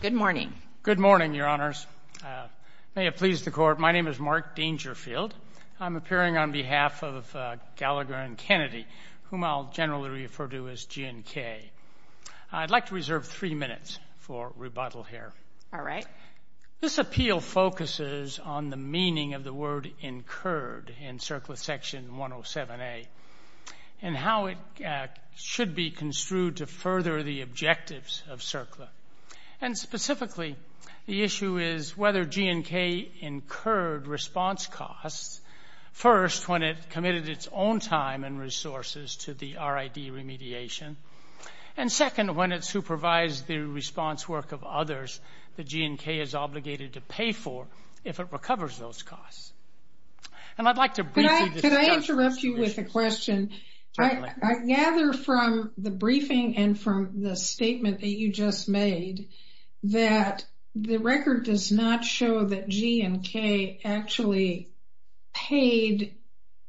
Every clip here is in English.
Good morning, Your Honors. May it please the Court, my name is Mark Dangerfield. I'm appearing on behalf of Gallagher & Kennedy, whom I'll generally refer to as G&K. I'd like to reserve three minutes for rebuttal here. This appeal focuses on the meaning of the word incurred in CERCLA Section 107A and how it should be construed to further the objectives of CERCLA. And specifically, the issue is whether G&K incurred response costs, first, when it committed its own time and resources to the RID remediation, and second, when it supervised the response work of others that G&K is obligated to pay for if it recovers those costs. And I'd like to briefly discuss this issue. Can I interrupt you with a question? Certainly. I gather from the briefing and from the statement that you just made that the record does not show that G&K actually paid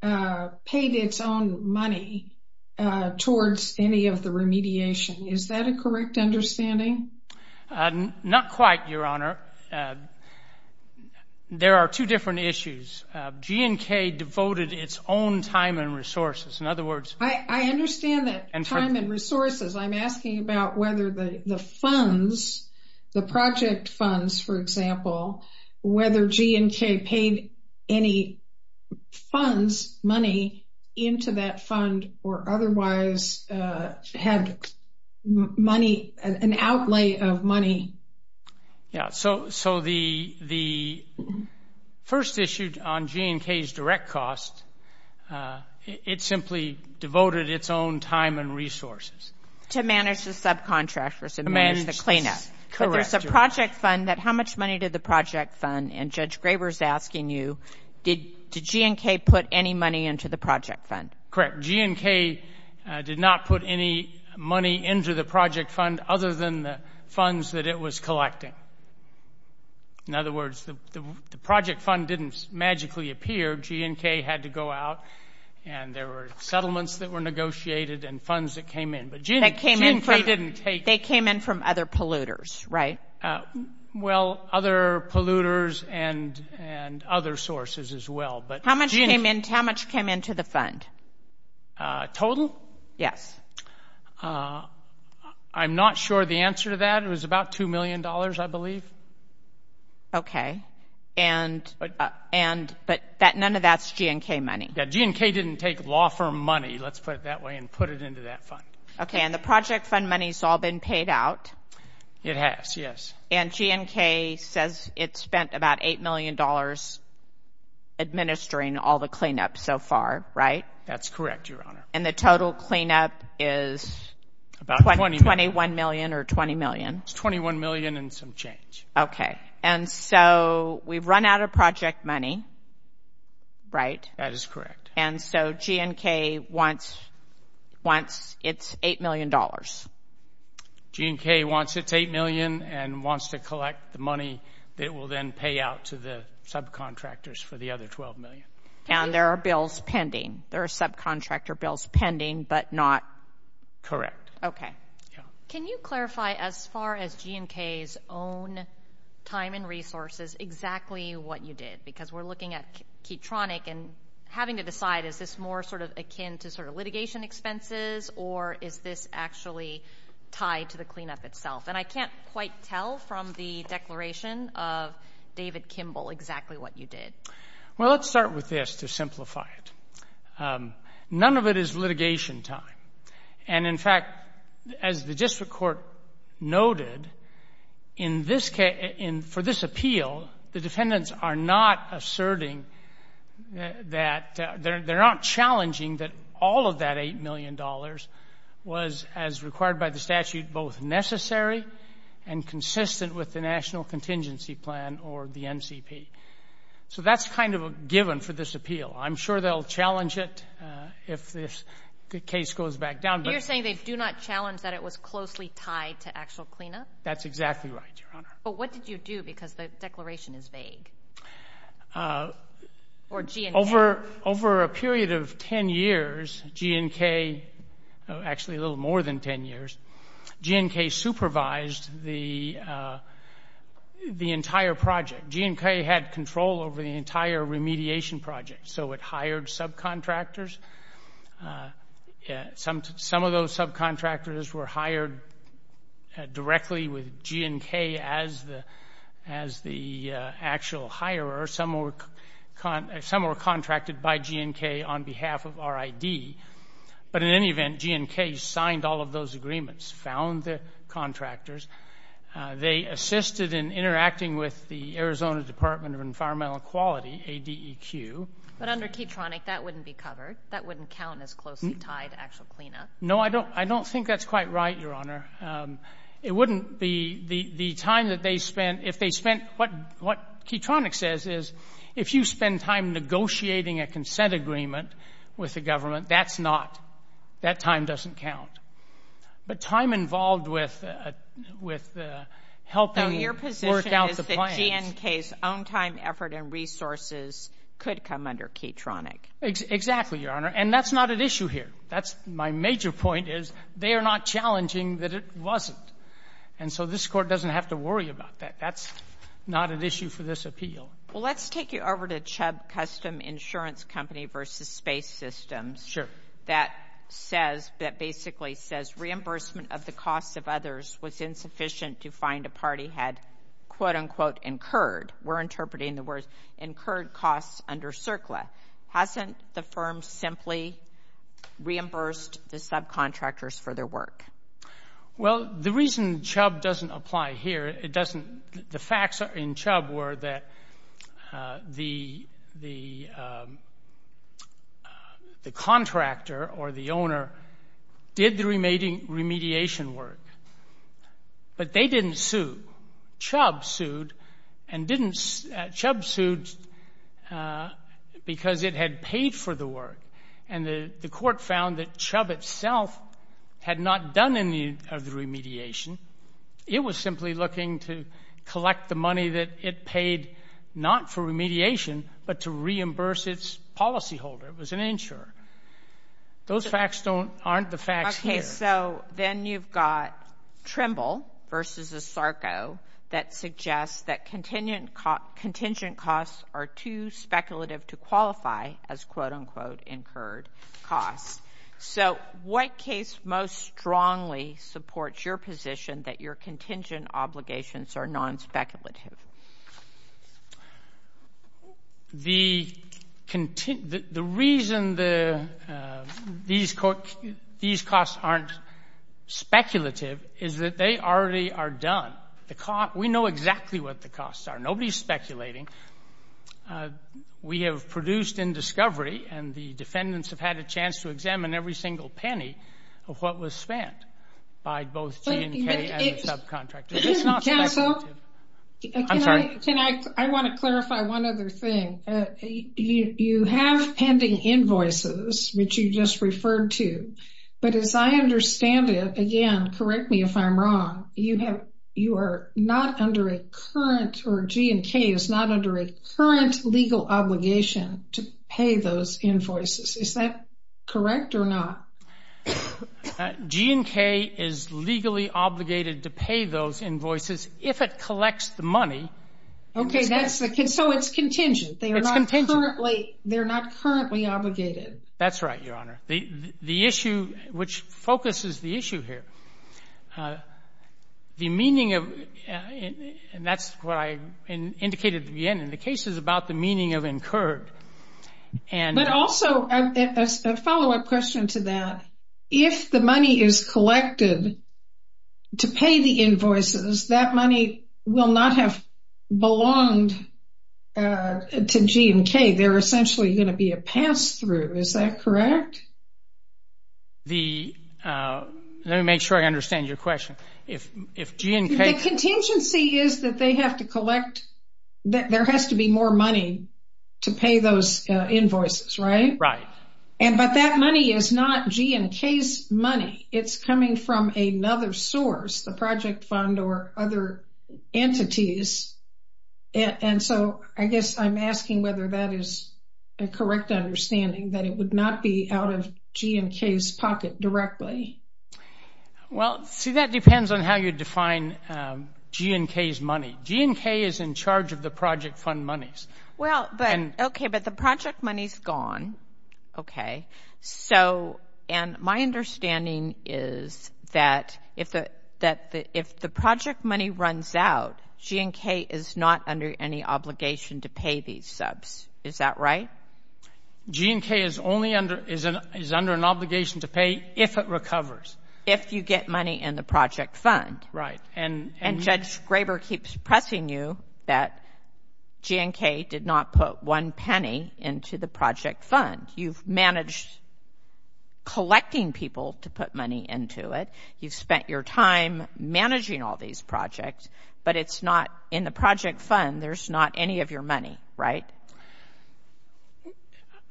its own money towards any of the remediation. Is that a correct understanding? Not quite, Your Honor. There are two different issues. G&K devoted its own time and resources. In other words... I understand that time and resources. I'm asking about whether the funds, the project funds, for example, whether G&K paid any funds, money, into that fund or otherwise had money, an outlay of money. So the first issue on G&K's direct costs, it simply devoted its own time and resources To manage the subcontractors and manage the cleanup. But there's a project fund that how much money did the project fund, and Judge Graber's asking you, did G&K put any money into the project fund? Correct. G&K did not put any money into the project fund other than the funds that it was collecting. In other words, the project fund didn't magically appear. G&K had to go out, and there were settlements that were negotiated and funds that came in, but G&K didn't take... They came in from other polluters, right? Well, other polluters and other sources as well, but... How much came into the fund? Total? Yes. I'm not sure the answer to that. It was about $2 million, I believe. Okay, but none of that's G&K money. G&K didn't take law firm money, let's put it that way, and put it into that fund. Okay, and the project fund money's all been paid out. It has, yes. And G&K says it spent about $8 million administering all the cleanup so far, right? That's correct, Your Honor. And the total cleanup is... About $20 million. $21 million or $20 million? It's $21 million and some change. Okay, and so we've run out of project money, right? That is correct. And so G&K wants its $8 million. G&K wants its $8 million and wants to collect the money that it will then pay out to the subcontractors for the other $12 million. And there are bills pending. There are subcontractor bills pending, but not... Correct. Okay. Can you clarify as far as G&K's own time and resources exactly what you did? Because we're looking at Keytronic and having to decide, is this more sort of akin to sort of litigation expenses or is this actually tied to the cleanup itself? And I can't quite tell from the declaration of David Kimball exactly what you did. Well, let's start with this to simplify it. None of it is litigation time. And, in fact, as the district court noted, for this appeal, the defendants are not asserting that they're not challenging that all of that $8 million was, as required by the statute, both necessary and consistent with the National Contingency Plan or the NCP. So that's kind of a given for this appeal. I'm sure they'll challenge it if the case goes back down. You're saying they do not challenge that it was closely tied to actual cleanup? That's exactly right, Your Honor. But what did you do because the declaration is vague? Over a period of 10 years, G&K, actually a little more than 10 years, G&K supervised the entire project. G&K had control over the entire remediation project. So it hired subcontractors. Some of those subcontractors were hired directly with G&K as the actual hirer. Some were contracted by G&K on behalf of RID. But, in any event, G&K signed all of those agreements, found the contractors. They assisted in interacting with the Arizona Department of Environmental Quality, ADEQ. But under Keytronic, that wouldn't be covered. That wouldn't count as closely tied to actual cleanup. No, I don't think that's quite right, Your Honor. It wouldn't be. The time that they spent, if they spent, what Keytronic says is, if you spend time negotiating a consent agreement with the government, that's not. That time doesn't count. But time involved with helping work out the plans. So your position is that G&K's own time, effort, and resources could come under Keytronic. Exactly, Your Honor. And that's not an issue here. My major point is they are not challenging that it wasn't. And so this Court doesn't have to worry about that. That's not an issue for this appeal. Well, let's take you over to Chubb Custom Insurance Company v. Space Systems. Sure. That basically says, reimbursement of the costs of others was insufficient to find a party had, quote-unquote, incurred. We're interpreting the words incurred costs under CERCLA. Hasn't the firm simply reimbursed the subcontractors for their work? Well, the reason Chubb doesn't apply here, the facts in Chubb were that the contractor or the owner did the remediation work, but they didn't sue. Chubb sued because it had paid for the work. And the court found that Chubb itself had not done any of the remediation. It was simply looking to collect the money that it paid not for remediation, but to reimburse its policyholder. It was an insurer. Those facts aren't the facts here. Okay. So then you've got Trimble v. Asarco that suggests that contingent costs are too speculative to qualify as, quote-unquote, incurred costs. So what case most strongly supports your position that your contingent obligations are non-speculative? The reason these costs aren't speculative is that they already are done. We know exactly what the costs are. Nobody is speculating. We have produced in discovery, and the defendants have had a chance to examine every single penny of what was spent by both G and K and the subcontractor. It's not speculative. I'm sorry. Can I – I want to clarify one other thing. You have pending invoices, which you just referred to, but as I understand it, again, correct me if I'm wrong, you are not under a current – or G and K is not under a current legal obligation to pay those invoices. Is that correct or not? G and K is legally obligated to pay those invoices if it collects the money. Okay, so it's contingent. It's contingent. They're not currently obligated. That's right, Your Honor. The issue, which focuses the issue here, the meaning of – and that's what I indicated at the beginning. The case is about the meaning of incurred. But also, a follow-up question to that, if the money is collected to pay the invoices, that money will not have belonged to G and K. They're essentially going to be a pass-through. Is that correct? Let me make sure I understand your question. If G and K – The contingency is that they have to collect – there has to be more money to pay those invoices, right? Right. But that money is not G and K's money. It's coming from another source, the project fund or other entities. And so I guess I'm asking whether that is a correct understanding, that it would not be out of G and K's pocket directly. Well, see, that depends on how you define G and K's money. G and K is in charge of the project fund monies. Well, okay, but the project money is gone, okay? And my understanding is that if the project money runs out, G and K is not under any obligation to pay these subs. Is that right? G and K is under an obligation to pay if it recovers. If you get money in the project fund. Right. And Judge Graber keeps pressing you that G and K did not put one penny into the project fund. You've managed collecting people to put money into it. You've spent your time managing all these projects, but in the project fund there's not any of your money, right?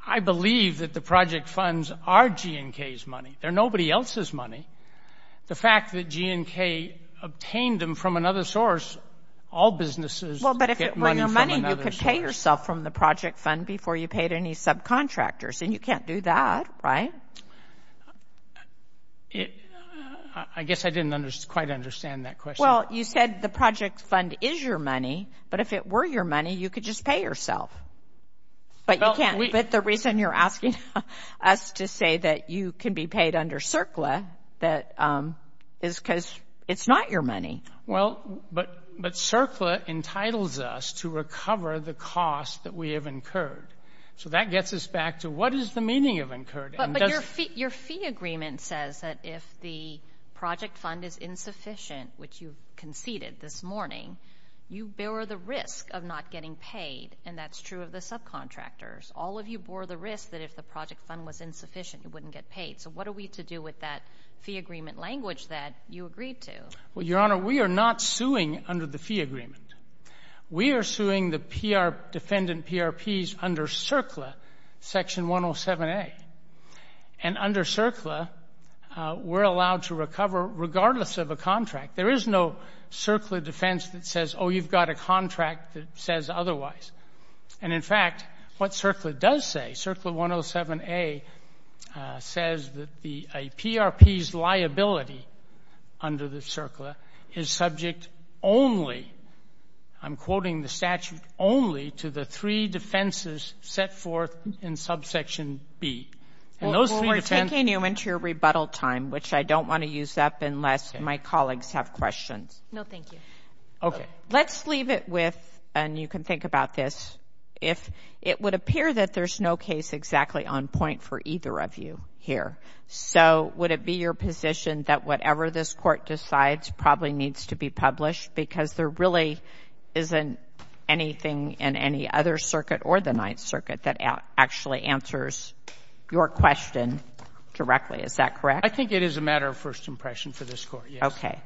I believe that the project funds are G and K's money. They're nobody else's money. The fact that G and K obtained them from another source, all businesses get money from another source. You could pay yourself from the project fund before you paid any subcontractors, and you can't do that, right? I guess I didn't quite understand that question. Well, you said the project fund is your money, but if it were your money, you could just pay yourself. But the reason you're asking us to say that you can be paid under CERCLA is because it's not your money. Well, but CERCLA entitles us to recover the cost that we have incurred. So that gets us back to what is the meaning of incurred? But your fee agreement says that if the project fund is insufficient, which you conceded this morning, you bear the risk of not getting paid, and that's true of the subcontractors. All of you bore the risk that if the project fund was insufficient, you wouldn't get paid. So what are we to do with that fee agreement language that you agreed to? Well, Your Honor, we are not suing under the fee agreement. We are suing the defendant PRPs under CERCLA, Section 107A. And under CERCLA, we're allowed to recover regardless of a contract. There is no CERCLA defense that says, oh, you've got a contract that says otherwise. And in fact, what CERCLA does say, CERCLA 107A says that a PRP's liability under the CERCLA is subject only, I'm quoting the statute, only to the three defenses set forth in subsection B. Well, we're taking you into your rebuttal time, which I don't want to use up unless my colleagues have questions. No, thank you. Okay. Let's leave it with, and you can think about this, if it would appear that there's no case exactly on point for either of you here. So would it be your position that whatever this Court decides probably needs to be published because there really isn't anything in any other circuit or the Ninth Circuit that actually answers your question directly? Is that correct? I think it is a matter of first impression for this Court, yes. Okay.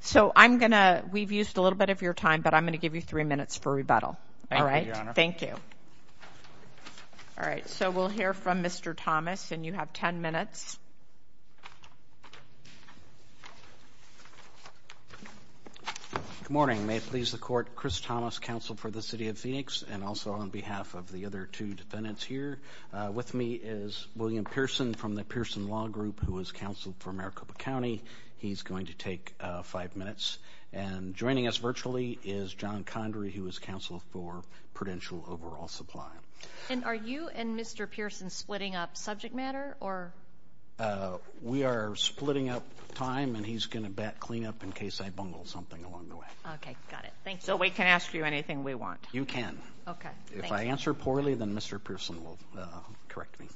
So I'm going to, we've used a little bit of your time, but I'm going to give you three minutes for rebuttal. All right? Thank you, Your Honor. All right. So we'll hear from Mr. Thomas, and you have 10 minutes. Good morning. May it please the Court, Chris Thomas, counsel for the City of Phoenix, and also on behalf of the other two defendants here. With me is William Pearson from the Pearson Law Group, who is counsel for Maricopa County. He's going to take five minutes. And joining us virtually is John Condry, who is counsel for Prudential Overall Supply. And are you and Mr. Pearson splitting up subject matter? We are splitting up time, and he's going to bat cleanup in case I bungle something along the way. Okay. Got it. So we can ask you anything we want? You can. Okay. If I answer poorly, then Mr. Pearson will correct me.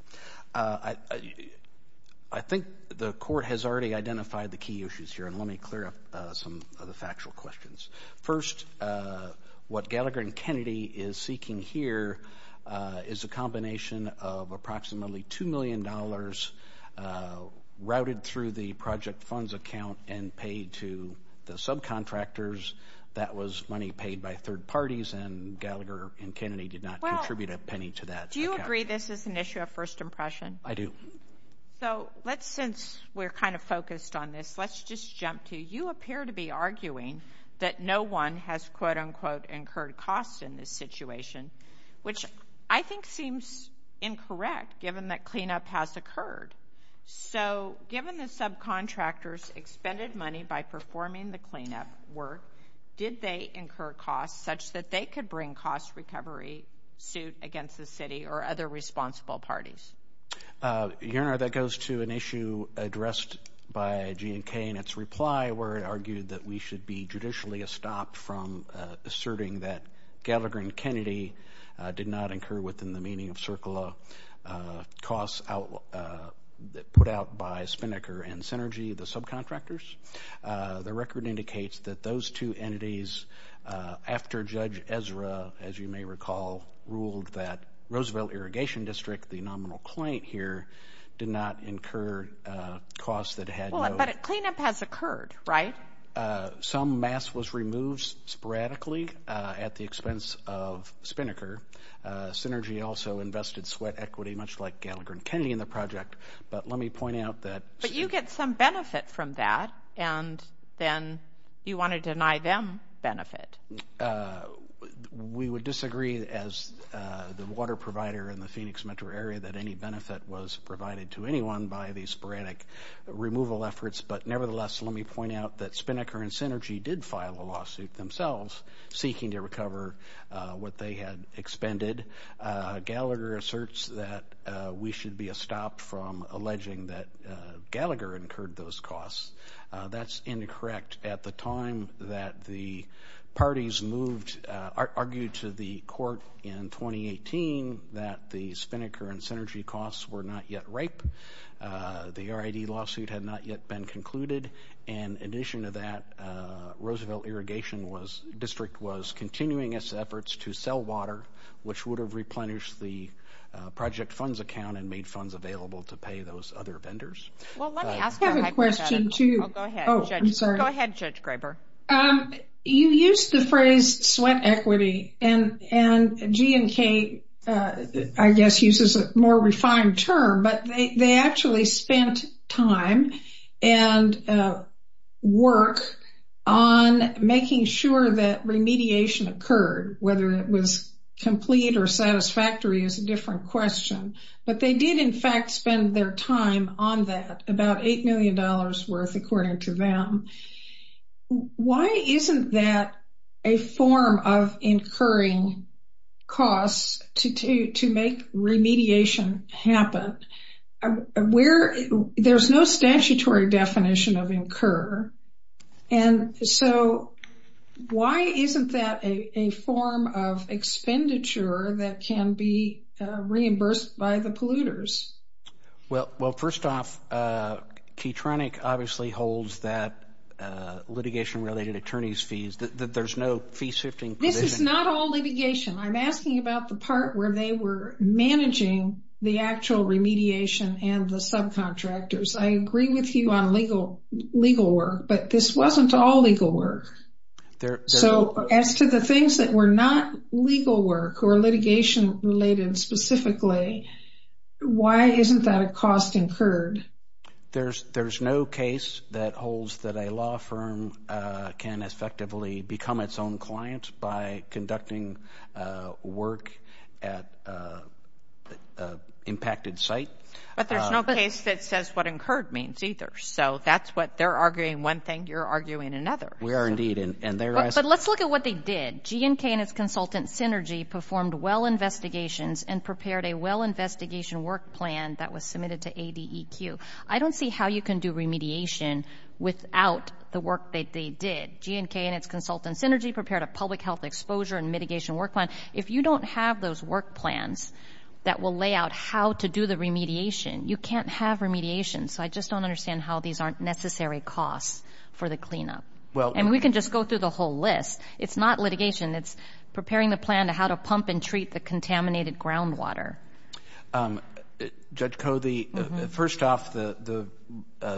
I think the Court has already identified the key issues here, and let me clear up some of the factual questions. First, what Gallagher and Kennedy is seeking here is a combination of approximately $2 million routed through the project funds account and paid to the subcontractors. That was money paid by third parties, and Gallagher and Kennedy did not contribute a penny to that account. Do you agree this is an issue of first impression? I do. So let's, since we're kind of focused on this, let's just jump to, you appear to be arguing that no one has, quote, unquote, incurred costs in this situation, which I think seems incorrect, given that cleanup has occurred. So given the subcontractors' expended money by performing the cleanup work, did they incur costs such that they could bring cost recovery suit against the city or other responsible parties? Your Honor, that goes to an issue addressed by G&K, and its reply where it argued that we should be judicially estopped from asserting that Gallagher and Kennedy did not incur within the meaning of CERCLA costs put out by Spinnaker and Synergy, the subcontractors. The record indicates that those two entities, after Judge Ezra, as you may recall, ruled that Roosevelt Irrigation District, the nominal client here, did not incur costs that had no- But a cleanup has occurred, right? Some mass was removed sporadically at the expense of Spinnaker. Synergy also invested sweat equity, much like Gallagher and Kennedy in the project. But let me point out that- But you get some benefit from that, and then you want to deny them benefit. We would disagree, as the water provider in the Phoenix metro area, that any benefit was provided to anyone by these sporadic removal efforts. But nevertheless, let me point out that Spinnaker and Synergy did file a lawsuit themselves, seeking to recover what they had expended. Gallagher asserts that we should be stopped from alleging that Gallagher incurred those costs. That's incorrect. At the time that the parties argued to the court in 2018 that the Spinnaker and Synergy costs were not yet ripe, the RID lawsuit had not yet been concluded. In addition to that, Roosevelt Irrigation District was continuing its efforts to sell water, which would have replenished the project funds account and made funds available to pay those other vendors. Well, let me ask you a hypothetical. I have a question, too. Go ahead. I'm sorry. Go ahead, Judge Graber. You used the phrase sweat equity, and G&K, I guess, uses a more refined term, but they actually spent time and work on making sure that remediation occurred, whether it was complete or satisfactory is a different question. But they did, in fact, spend their time on that, about $8 million worth, according to them. Why isn't that a form of incurring costs to make remediation happen? There's no statutory definition of incur. And so why isn't that a form of expenditure that can be reimbursed by the polluters? Well, first off, Keytronic obviously holds that litigation-related attorney's fees. There's no fee-shifting position. This is not all litigation. I'm asking about the part where they were managing the actual remediation and the subcontractors. I agree with you on legal work, but this wasn't all legal work. So as to the things that were not legal work or litigation-related specifically, why isn't that a cost incurred? There's no case that holds that a law firm can effectively become its own client by conducting work at an impacted site. But there's no case that says what incurred means either. So that's what they're arguing one thing, you're arguing another. We are indeed. But let's look at what they did. G&K and its consultant, Synergy, performed well investigations and prepared a well investigation work plan that was submitted to ADEQ. I don't see how you can do remediation without the work that they did. G&K and its consultant, Synergy, prepared a public health exposure and mitigation work plan. If you don't have those work plans that will lay out how to do the remediation, you can't have remediation. So I just don't understand how these aren't necessary costs for the cleanup. And we can just go through the whole list. It's not litigation. It's preparing the plan to how to pump and treat the contaminated groundwater. Judge Covey, first off, the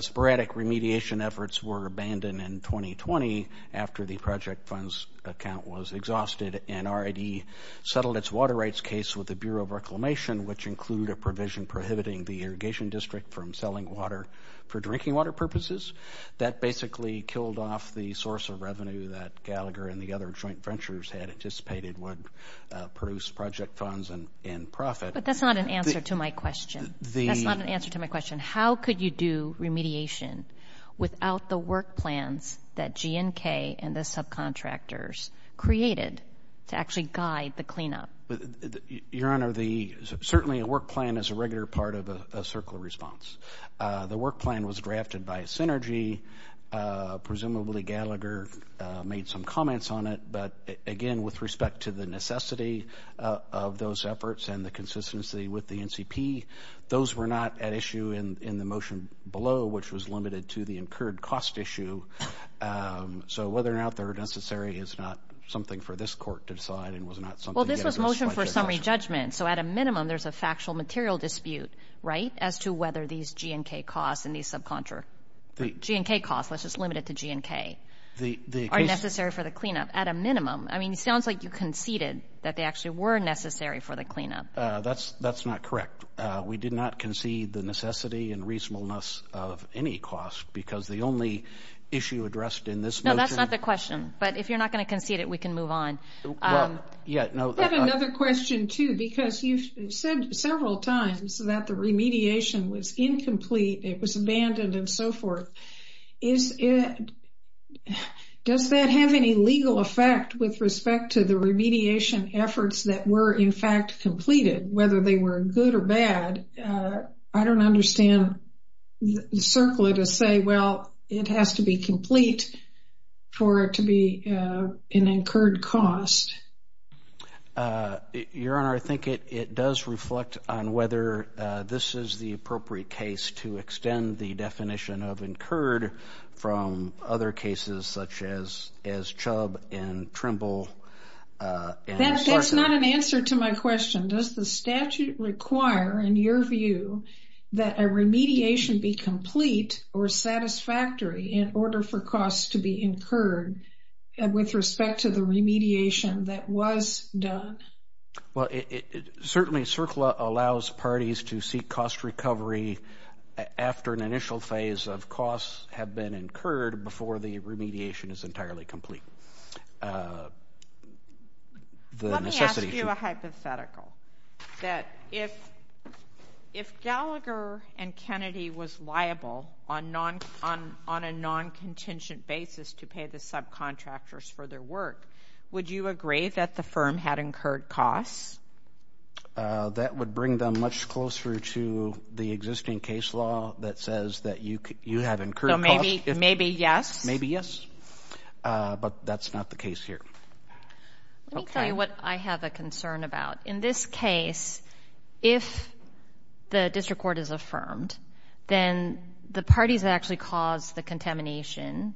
sporadic remediation efforts were abandoned in 2020 after the project funds account was exhausted and RID settled its water rights case with the Bureau of Reclamation, which included a provision prohibiting the irrigation district from selling water for drinking water purposes. That basically killed off the source of revenue that Gallagher and the other joint ventures had anticipated would produce project funds and profit. But that's not an answer to my question. That's not an answer to my question. How could you do remediation without the work plans that GNK and the subcontractors created to actually guide the cleanup? Your Honor, certainly a work plan is a regular part of a circular response. The work plan was drafted by Synergy. Presumably Gallagher made some comments on it. But, again, with respect to the necessity of those efforts and the consistency with the NCP, those were not at issue in the motion below, which was limited to the incurred cost issue. So whether or not they're necessary is not something for this court to decide and was not something given as much as us. Well, this was a motion for summary judgment, so at a minimum there's a factual material dispute, right, as to whether these GNK costs and these subcontractors, GNK costs, let's just limit it to GNK, are necessary for the cleanup at a minimum. I mean, it sounds like you conceded that they actually were necessary for the cleanup. That's not correct. We did not concede the necessity and reasonableness of any cost because the only issue addressed in this motion. No, that's not the question. But if you're not going to concede it, we can move on. I have another question, too, because you've said several times that the remediation was incomplete, it was abandoned, and so forth. Does that have any legal effect with respect to the remediation efforts that were, in fact, completed, whether they were good or bad? I don't understand the circle to say, well, it has to be complete for it to be an incurred cost. Your Honor, I think it does reflect on whether this is the appropriate case to extend the definition of incurred from other cases such as Chubb and Trimble. That's not an answer to my question. Does the statute require, in your view, that a remediation be complete or satisfactory in order for costs to be incurred with respect to the remediation that was done? Well, certainly CERCLA allows parties to seek cost recovery after an initial phase of costs have been incurred before the remediation is entirely complete. Let me ask you a hypothetical, that if Gallagher and Kennedy was liable on a non-contingent basis to pay the subcontractors for their work, would you agree that the firm had incurred costs? That would bring them much closer to the existing case law that says that you have incurred costs. So maybe yes? Maybe yes, but that's not the case here. Let me tell you what I have a concern about. In this case, if the district court is affirmed, then the parties that actually caused the contamination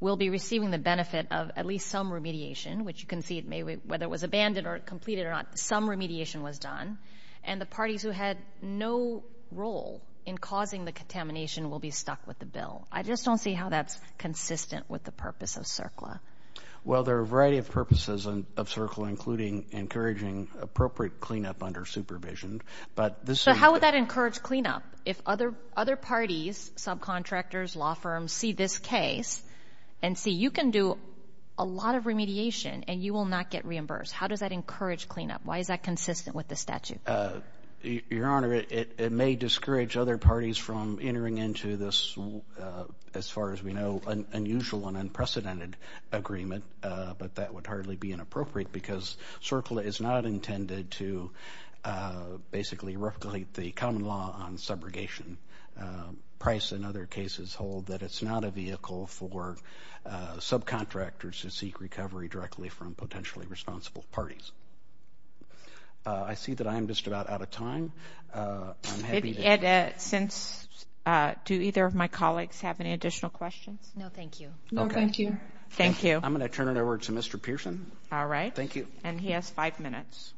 will be receiving the benefit of at least some remediation, which you can see whether it was abandoned or completed or not, some remediation was done, and the parties who had no role in causing the contamination will be stuck with the bill. I just don't see how that's consistent with the purpose of CERCLA. Well, there are a variety of purposes of CERCLA, including encouraging appropriate cleanup under supervision. So how would that encourage cleanup? If other parties, subcontractors, law firms, see this case and see you can do a lot of remediation and you will not get reimbursed, how does that encourage cleanup? Why is that consistent with the statute? Your Honor, it may discourage other parties from entering into this, as far as we know, unusual and unprecedented agreement, but that would hardly be inappropriate because CERCLA is not intended to basically violate the common law on subrogation. Price and other cases hold that it's not a vehicle for subcontractors to seek recovery directly from potentially responsible parties. I see that I am just about out of time. Ed, do either of my colleagues have any additional questions? No, thank you. I'm going to turn it over to Mr. Pearson. All right. Thank you. And he has five minutes.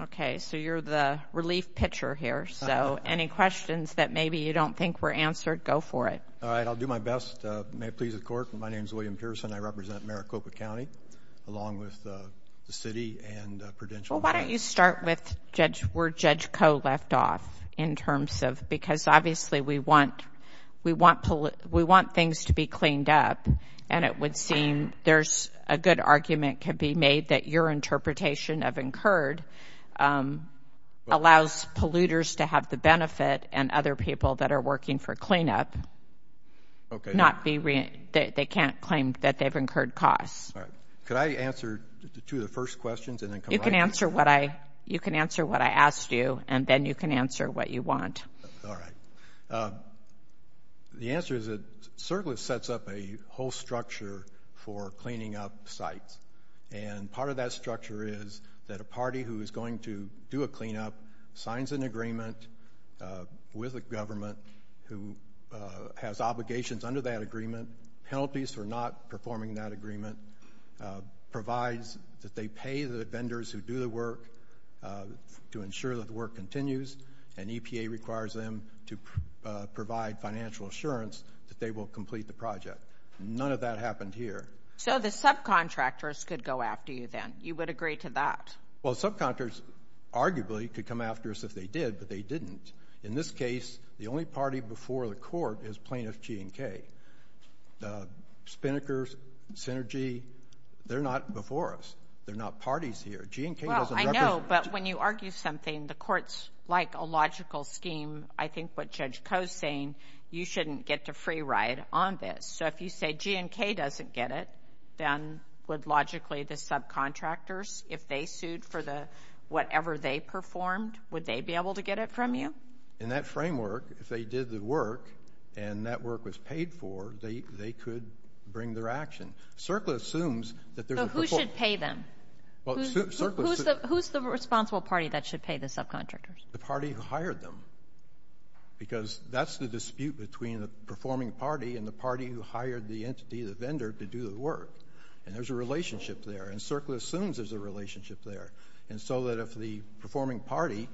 Okay, so you're the relief pitcher here, so any questions that maybe you don't think were answered, go for it. All right, I'll do my best. May it please the Court, my name is William Pearson. I represent Maricopa County along with the City and Prudential. Well, why don't you start with where Judge Koh left off in terms of because obviously we want things to be cleaned up and it would seem there's a good argument can be made that your interpretation of incurred allows polluters to have the benefit and other people that are working for cleanup, they can't claim that they've incurred costs. Could I answer two of the first questions and then come back? You can answer what I asked you and then you can answer what you want. All right. The answer is it certainly sets up a whole structure for cleaning up sites, and part of that structure is that a party who is going to do a cleanup signs an agreement with a government who has obligations under that agreement, penalties for not performing that agreement, provides that they pay the vendors who do the work to ensure that the work continues, and EPA requires them to provide financial assurance that they will complete the project. None of that happened here. So the subcontractors could go after you then? You would agree to that? Well, subcontractors arguably could come after us if they did, but they didn't. In this case, the only party before the court is plaintiff G&K. Spinnaker, Synergy, they're not before us. They're not parties here. Well, I know, but when you argue something, the courts, like a logical scheme, I think what Judge Koh is saying, you shouldn't get to free ride on this. So if you say G&K doesn't get it, then would logically the subcontractors, if they sued for whatever they performed, would they be able to get it from you? In that framework, if they did the work and that work was paid for, they could bring their action. So who should pay them? Who's the responsible party that should pay the subcontractors? The party who hired them, because that's the dispute between the performing party and the party who hired the entity, the vendor, to do the work. And there's a relationship there, and CERCLA assumes there's a relationship there. And so that if the performing party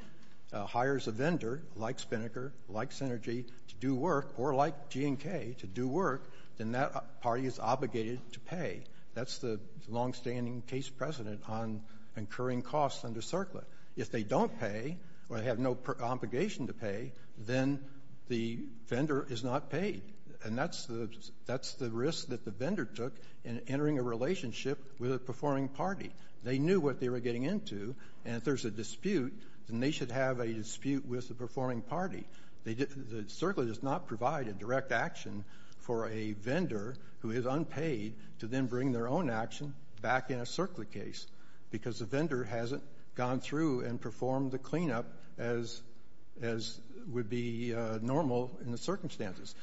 hires a vendor like Spinnaker, like Synergy, to do work, or like G&K to do work, then that party is obligated to pay. That's the longstanding case precedent on incurring costs under CERCLA. If they don't pay or have no obligation to pay, then the vendor is not paid. And that's the risk that the vendor took in entering a relationship with a performing party. They knew what they were getting into, and if there's a dispute, then they should have a dispute with the performing party. CERCLA does not provide a direct action for a vendor who is unpaid to then bring their own action back in a CERCLA case, because the vendor hasn't gone through and performed the cleanup as would be normal in the circumstances.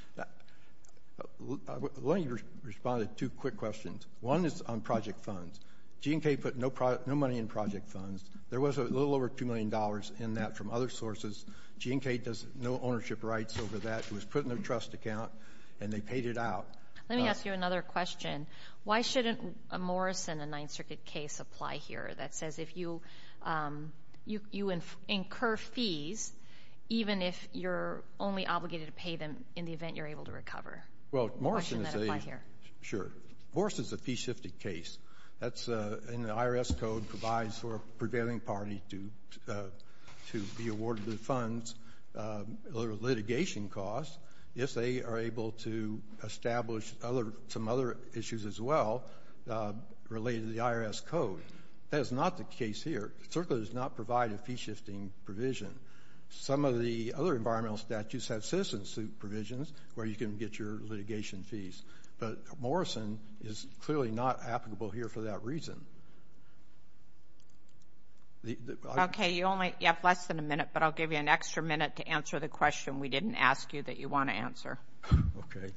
Let me respond to two quick questions. One is on project funds. G&K put no money in project funds. There was a little over $2 million in that from other sources. G&K does no ownership rights over that. It was put in their trust account, and they paid it out. Let me ask you another question. Why shouldn't a Morrison and Ninth Circuit case apply here that says if you incur fees, even if you're only obligated to pay them in the event you're able to recover? Well, Morrison is a piece-shifted case. And the IRS code provides for a prevailing party to be awarded the funds or litigation costs if they are able to establish some other issues as well related to the IRS code. That is not the case here. CERCLA does not provide a fee-shifting provision. Some of the other environmental statutes have citizen-suit provisions where you can get your litigation fees, but Morrison is clearly not applicable here for that reason. Okay, you have less than a minute, but I'll give you an extra minute to answer the question we didn't ask you that you want to answer. Okay.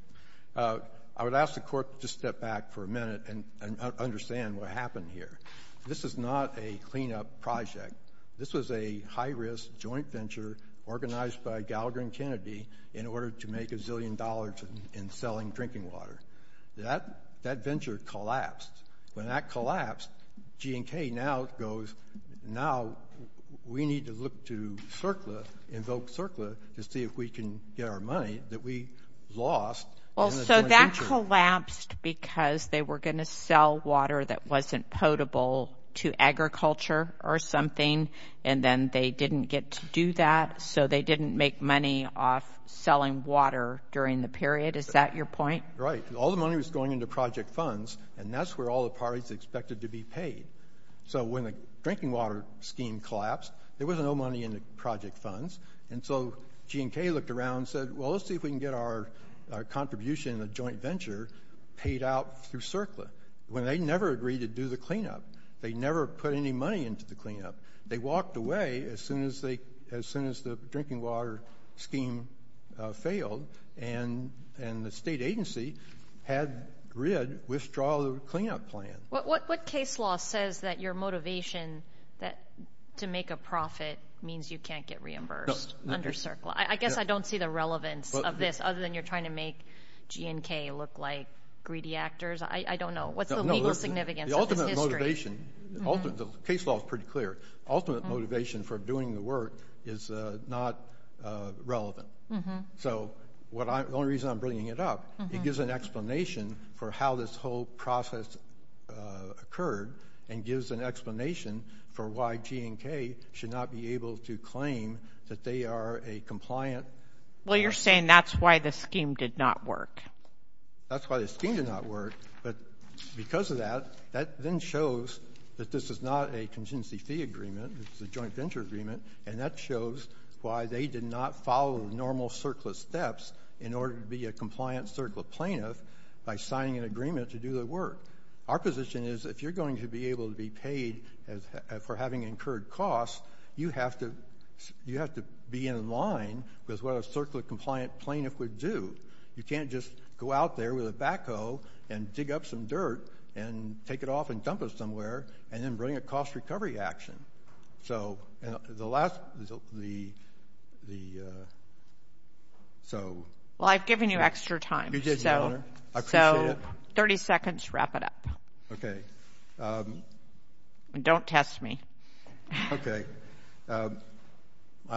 I would ask the Court to step back for a minute and understand what happened here. This is not a cleanup project. This was a high-risk joint venture organized by Gallagher and Kennedy in order to make a zillion dollars in selling drinking water. That venture collapsed. When that collapsed, G&K now goes, now we need to look to CERCLA, invoke CERCLA, to see if we can get our money that we lost. Well, so that collapsed because they were going to sell water that wasn't potable to agriculture or something, and then they didn't get to do that, so they didn't make money off selling water during the period. Is that your point? Right. All the money was going into project funds, and that's where all the parties expected to be paid. So when the drinking water scheme collapsed, there was no money in the project funds, and so G&K looked around and said, well, let's see if we can get our contribution in a joint venture paid out through CERCLA. They never agreed to do the cleanup. They never put any money into the cleanup. They walked away as soon as the drinking water scheme failed, and the state agency had GRID withdraw the cleanup plan. What case law says that your motivation to make a profit means you can't get reimbursed under CERCLA? I guess I don't see the relevance of this other than you're trying to make G&K look like greedy actors. I don't know. What's the legal significance of this history? The case law is pretty clear. Ultimate motivation for doing the work is not relevant. So the only reason I'm bringing it up, it gives an explanation for how this whole process occurred and gives an explanation for why G&K should not be able to claim that they are a compliant partner. Well, you're saying that's why the scheme did not work. That's why the scheme did not work. But because of that, that then shows that this is not a contingency fee agreement. This is a joint venture agreement, and that shows why they did not follow normal CERCLA steps in order to be a compliant CERCLA plaintiff by signing an agreement to do the work. Our position is if you're going to be able to be paid for having incurred costs, you have to be in line with what a CERCLA compliant plaintiff would do. You can't just go out there with a backhoe and dig up some dirt and take it off and dump it somewhere and then bring a cost recovery action. So the last – Well, I've given you extra time. You did, Your Honor. I appreciate it. So 30 seconds to wrap it up. Okay. Don't test me. Okay. My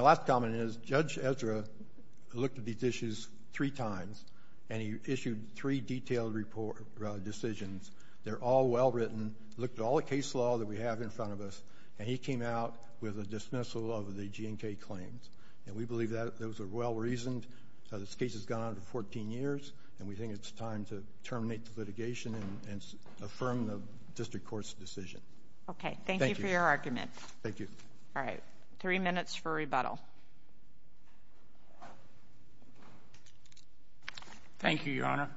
last comment is Judge Ezra looked at these issues three times, and he issued three detailed decisions. They're all well written, looked at all the case law that we have in front of us, and he came out with a dismissal of the G&K claims. And we believe those are well reasoned. This case has gone on for 14 years, and we think it's time to terminate the litigation and affirm the district court's decision. Okay. Thank you for your argument. Thank you. All right. Three minutes for rebuttal. Thank you, Your Honor.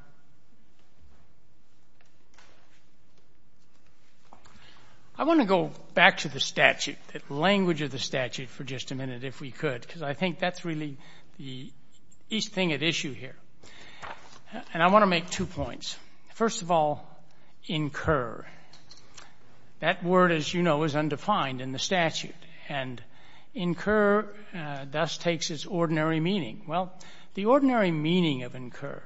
I want to go back to the statute, the language of the statute, for just a minute if we could, because I think that's really the thing at issue here. And I want to make two points. First of all, incur. That word, as you know, is undefined in the statute. And incur thus takes its ordinary meaning. Well, the ordinary meaning of incur,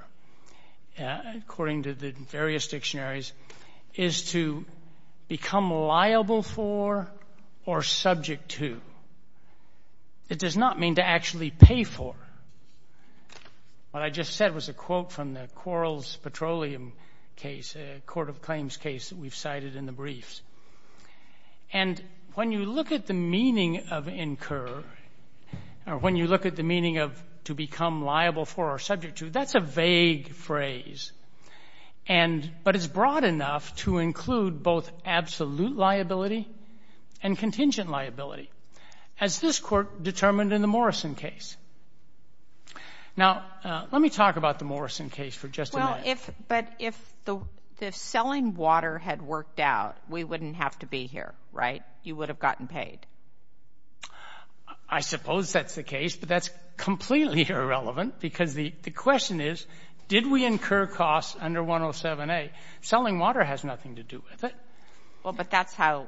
according to the various dictionaries, is to become liable for or subject to. It does not mean to actually pay for. What I just said was a quote from the Quarles Petroleum case, a court of claims case that we've cited in the briefs. And when you look at the meaning of incur, or when you look at the meaning of to become liable for or subject to, that's a vague phrase. But it's broad enough to include both absolute liability and contingent liability, as this court determined in the Morrison case. Now, let me talk about the Morrison case for just a minute. Well, but if the selling water had worked out, we wouldn't have to be here, right? You would have gotten paid. I suppose that's the case, but that's completely irrelevant, because the question is, did we incur costs under 107A? Selling water has nothing to do with it. Well, but that's how,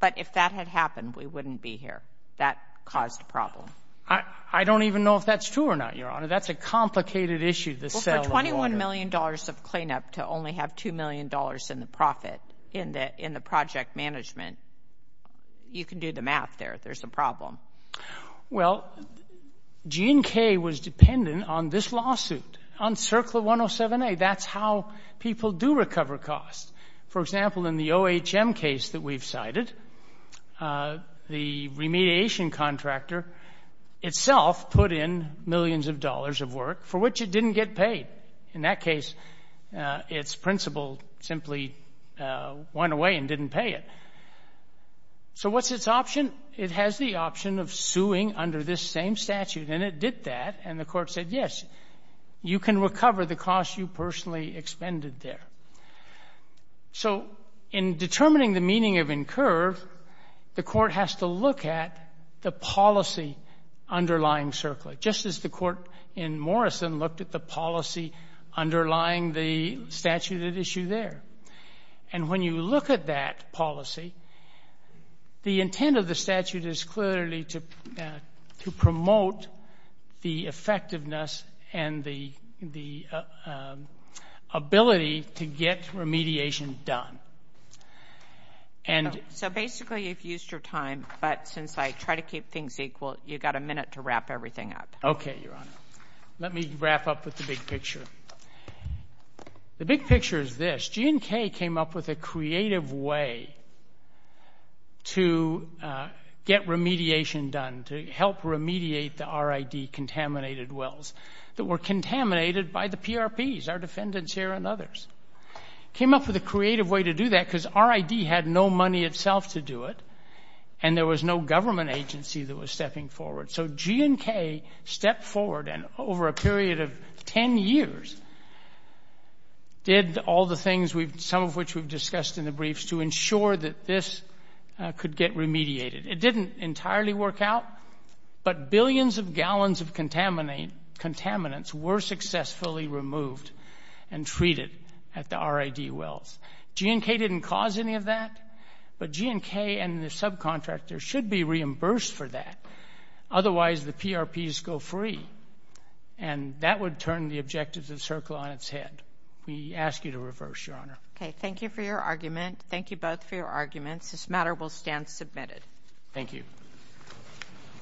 but if that had happened, we wouldn't be here. That caused a problem. I don't even know if that's true or not, Your Honor. That's a complicated issue, the selling water. Well, for $21 million of cleanup to only have $2 million in the profit in the project management, you can do the math there. There's a problem. Well, G&K was dependent on this lawsuit, on CERCLA 107A. That's how people do recover costs. For example, in the OHM case that we've cited, the remediation contractor itself put in millions of dollars of work for which it didn't get paid. In that case, its principal simply went away and didn't pay it. So what's its option? It has the option of suing under this same statute, and it did that, and the court said, yes, you can recover the cost you personally expended there. So in determining the meaning of incur, the court has to look at the policy underlying CERCLA, just as the court in Morrison looked at the policy underlying the statute at issue there. And when you look at that policy, the intent of the statute is clearly to promote the effectiveness and the ability to get remediation done. So basically you've used your time, but since I try to keep things equal, you've got a minute to wrap everything up. Okay, Your Honor. Let me wrap up with the big picture. The big picture is this. G&K came up with a creative way to get remediation done, to help remediate the RID-contaminated wells that were contaminated by the PRPs, our defendants here and others. Came up with a creative way to do that because RID had no money itself to do it, and there was no government agency that was stepping forward. So G&K stepped forward and over a period of ten years did all the things, some of which we've discussed in the briefs, to ensure that this could get remediated. It didn't entirely work out, but billions of gallons of contaminants were successfully removed and treated at the RID wells. G&K didn't cause any of that, but G&K and the subcontractors should be reimbursed for that. Otherwise, the PRPs go free, and that would turn the objectives of CERCLA on its head. We ask you to reverse, Your Honor. Okay, thank you for your argument. Thank you both for your arguments. This matter will stand submitted. Thank you.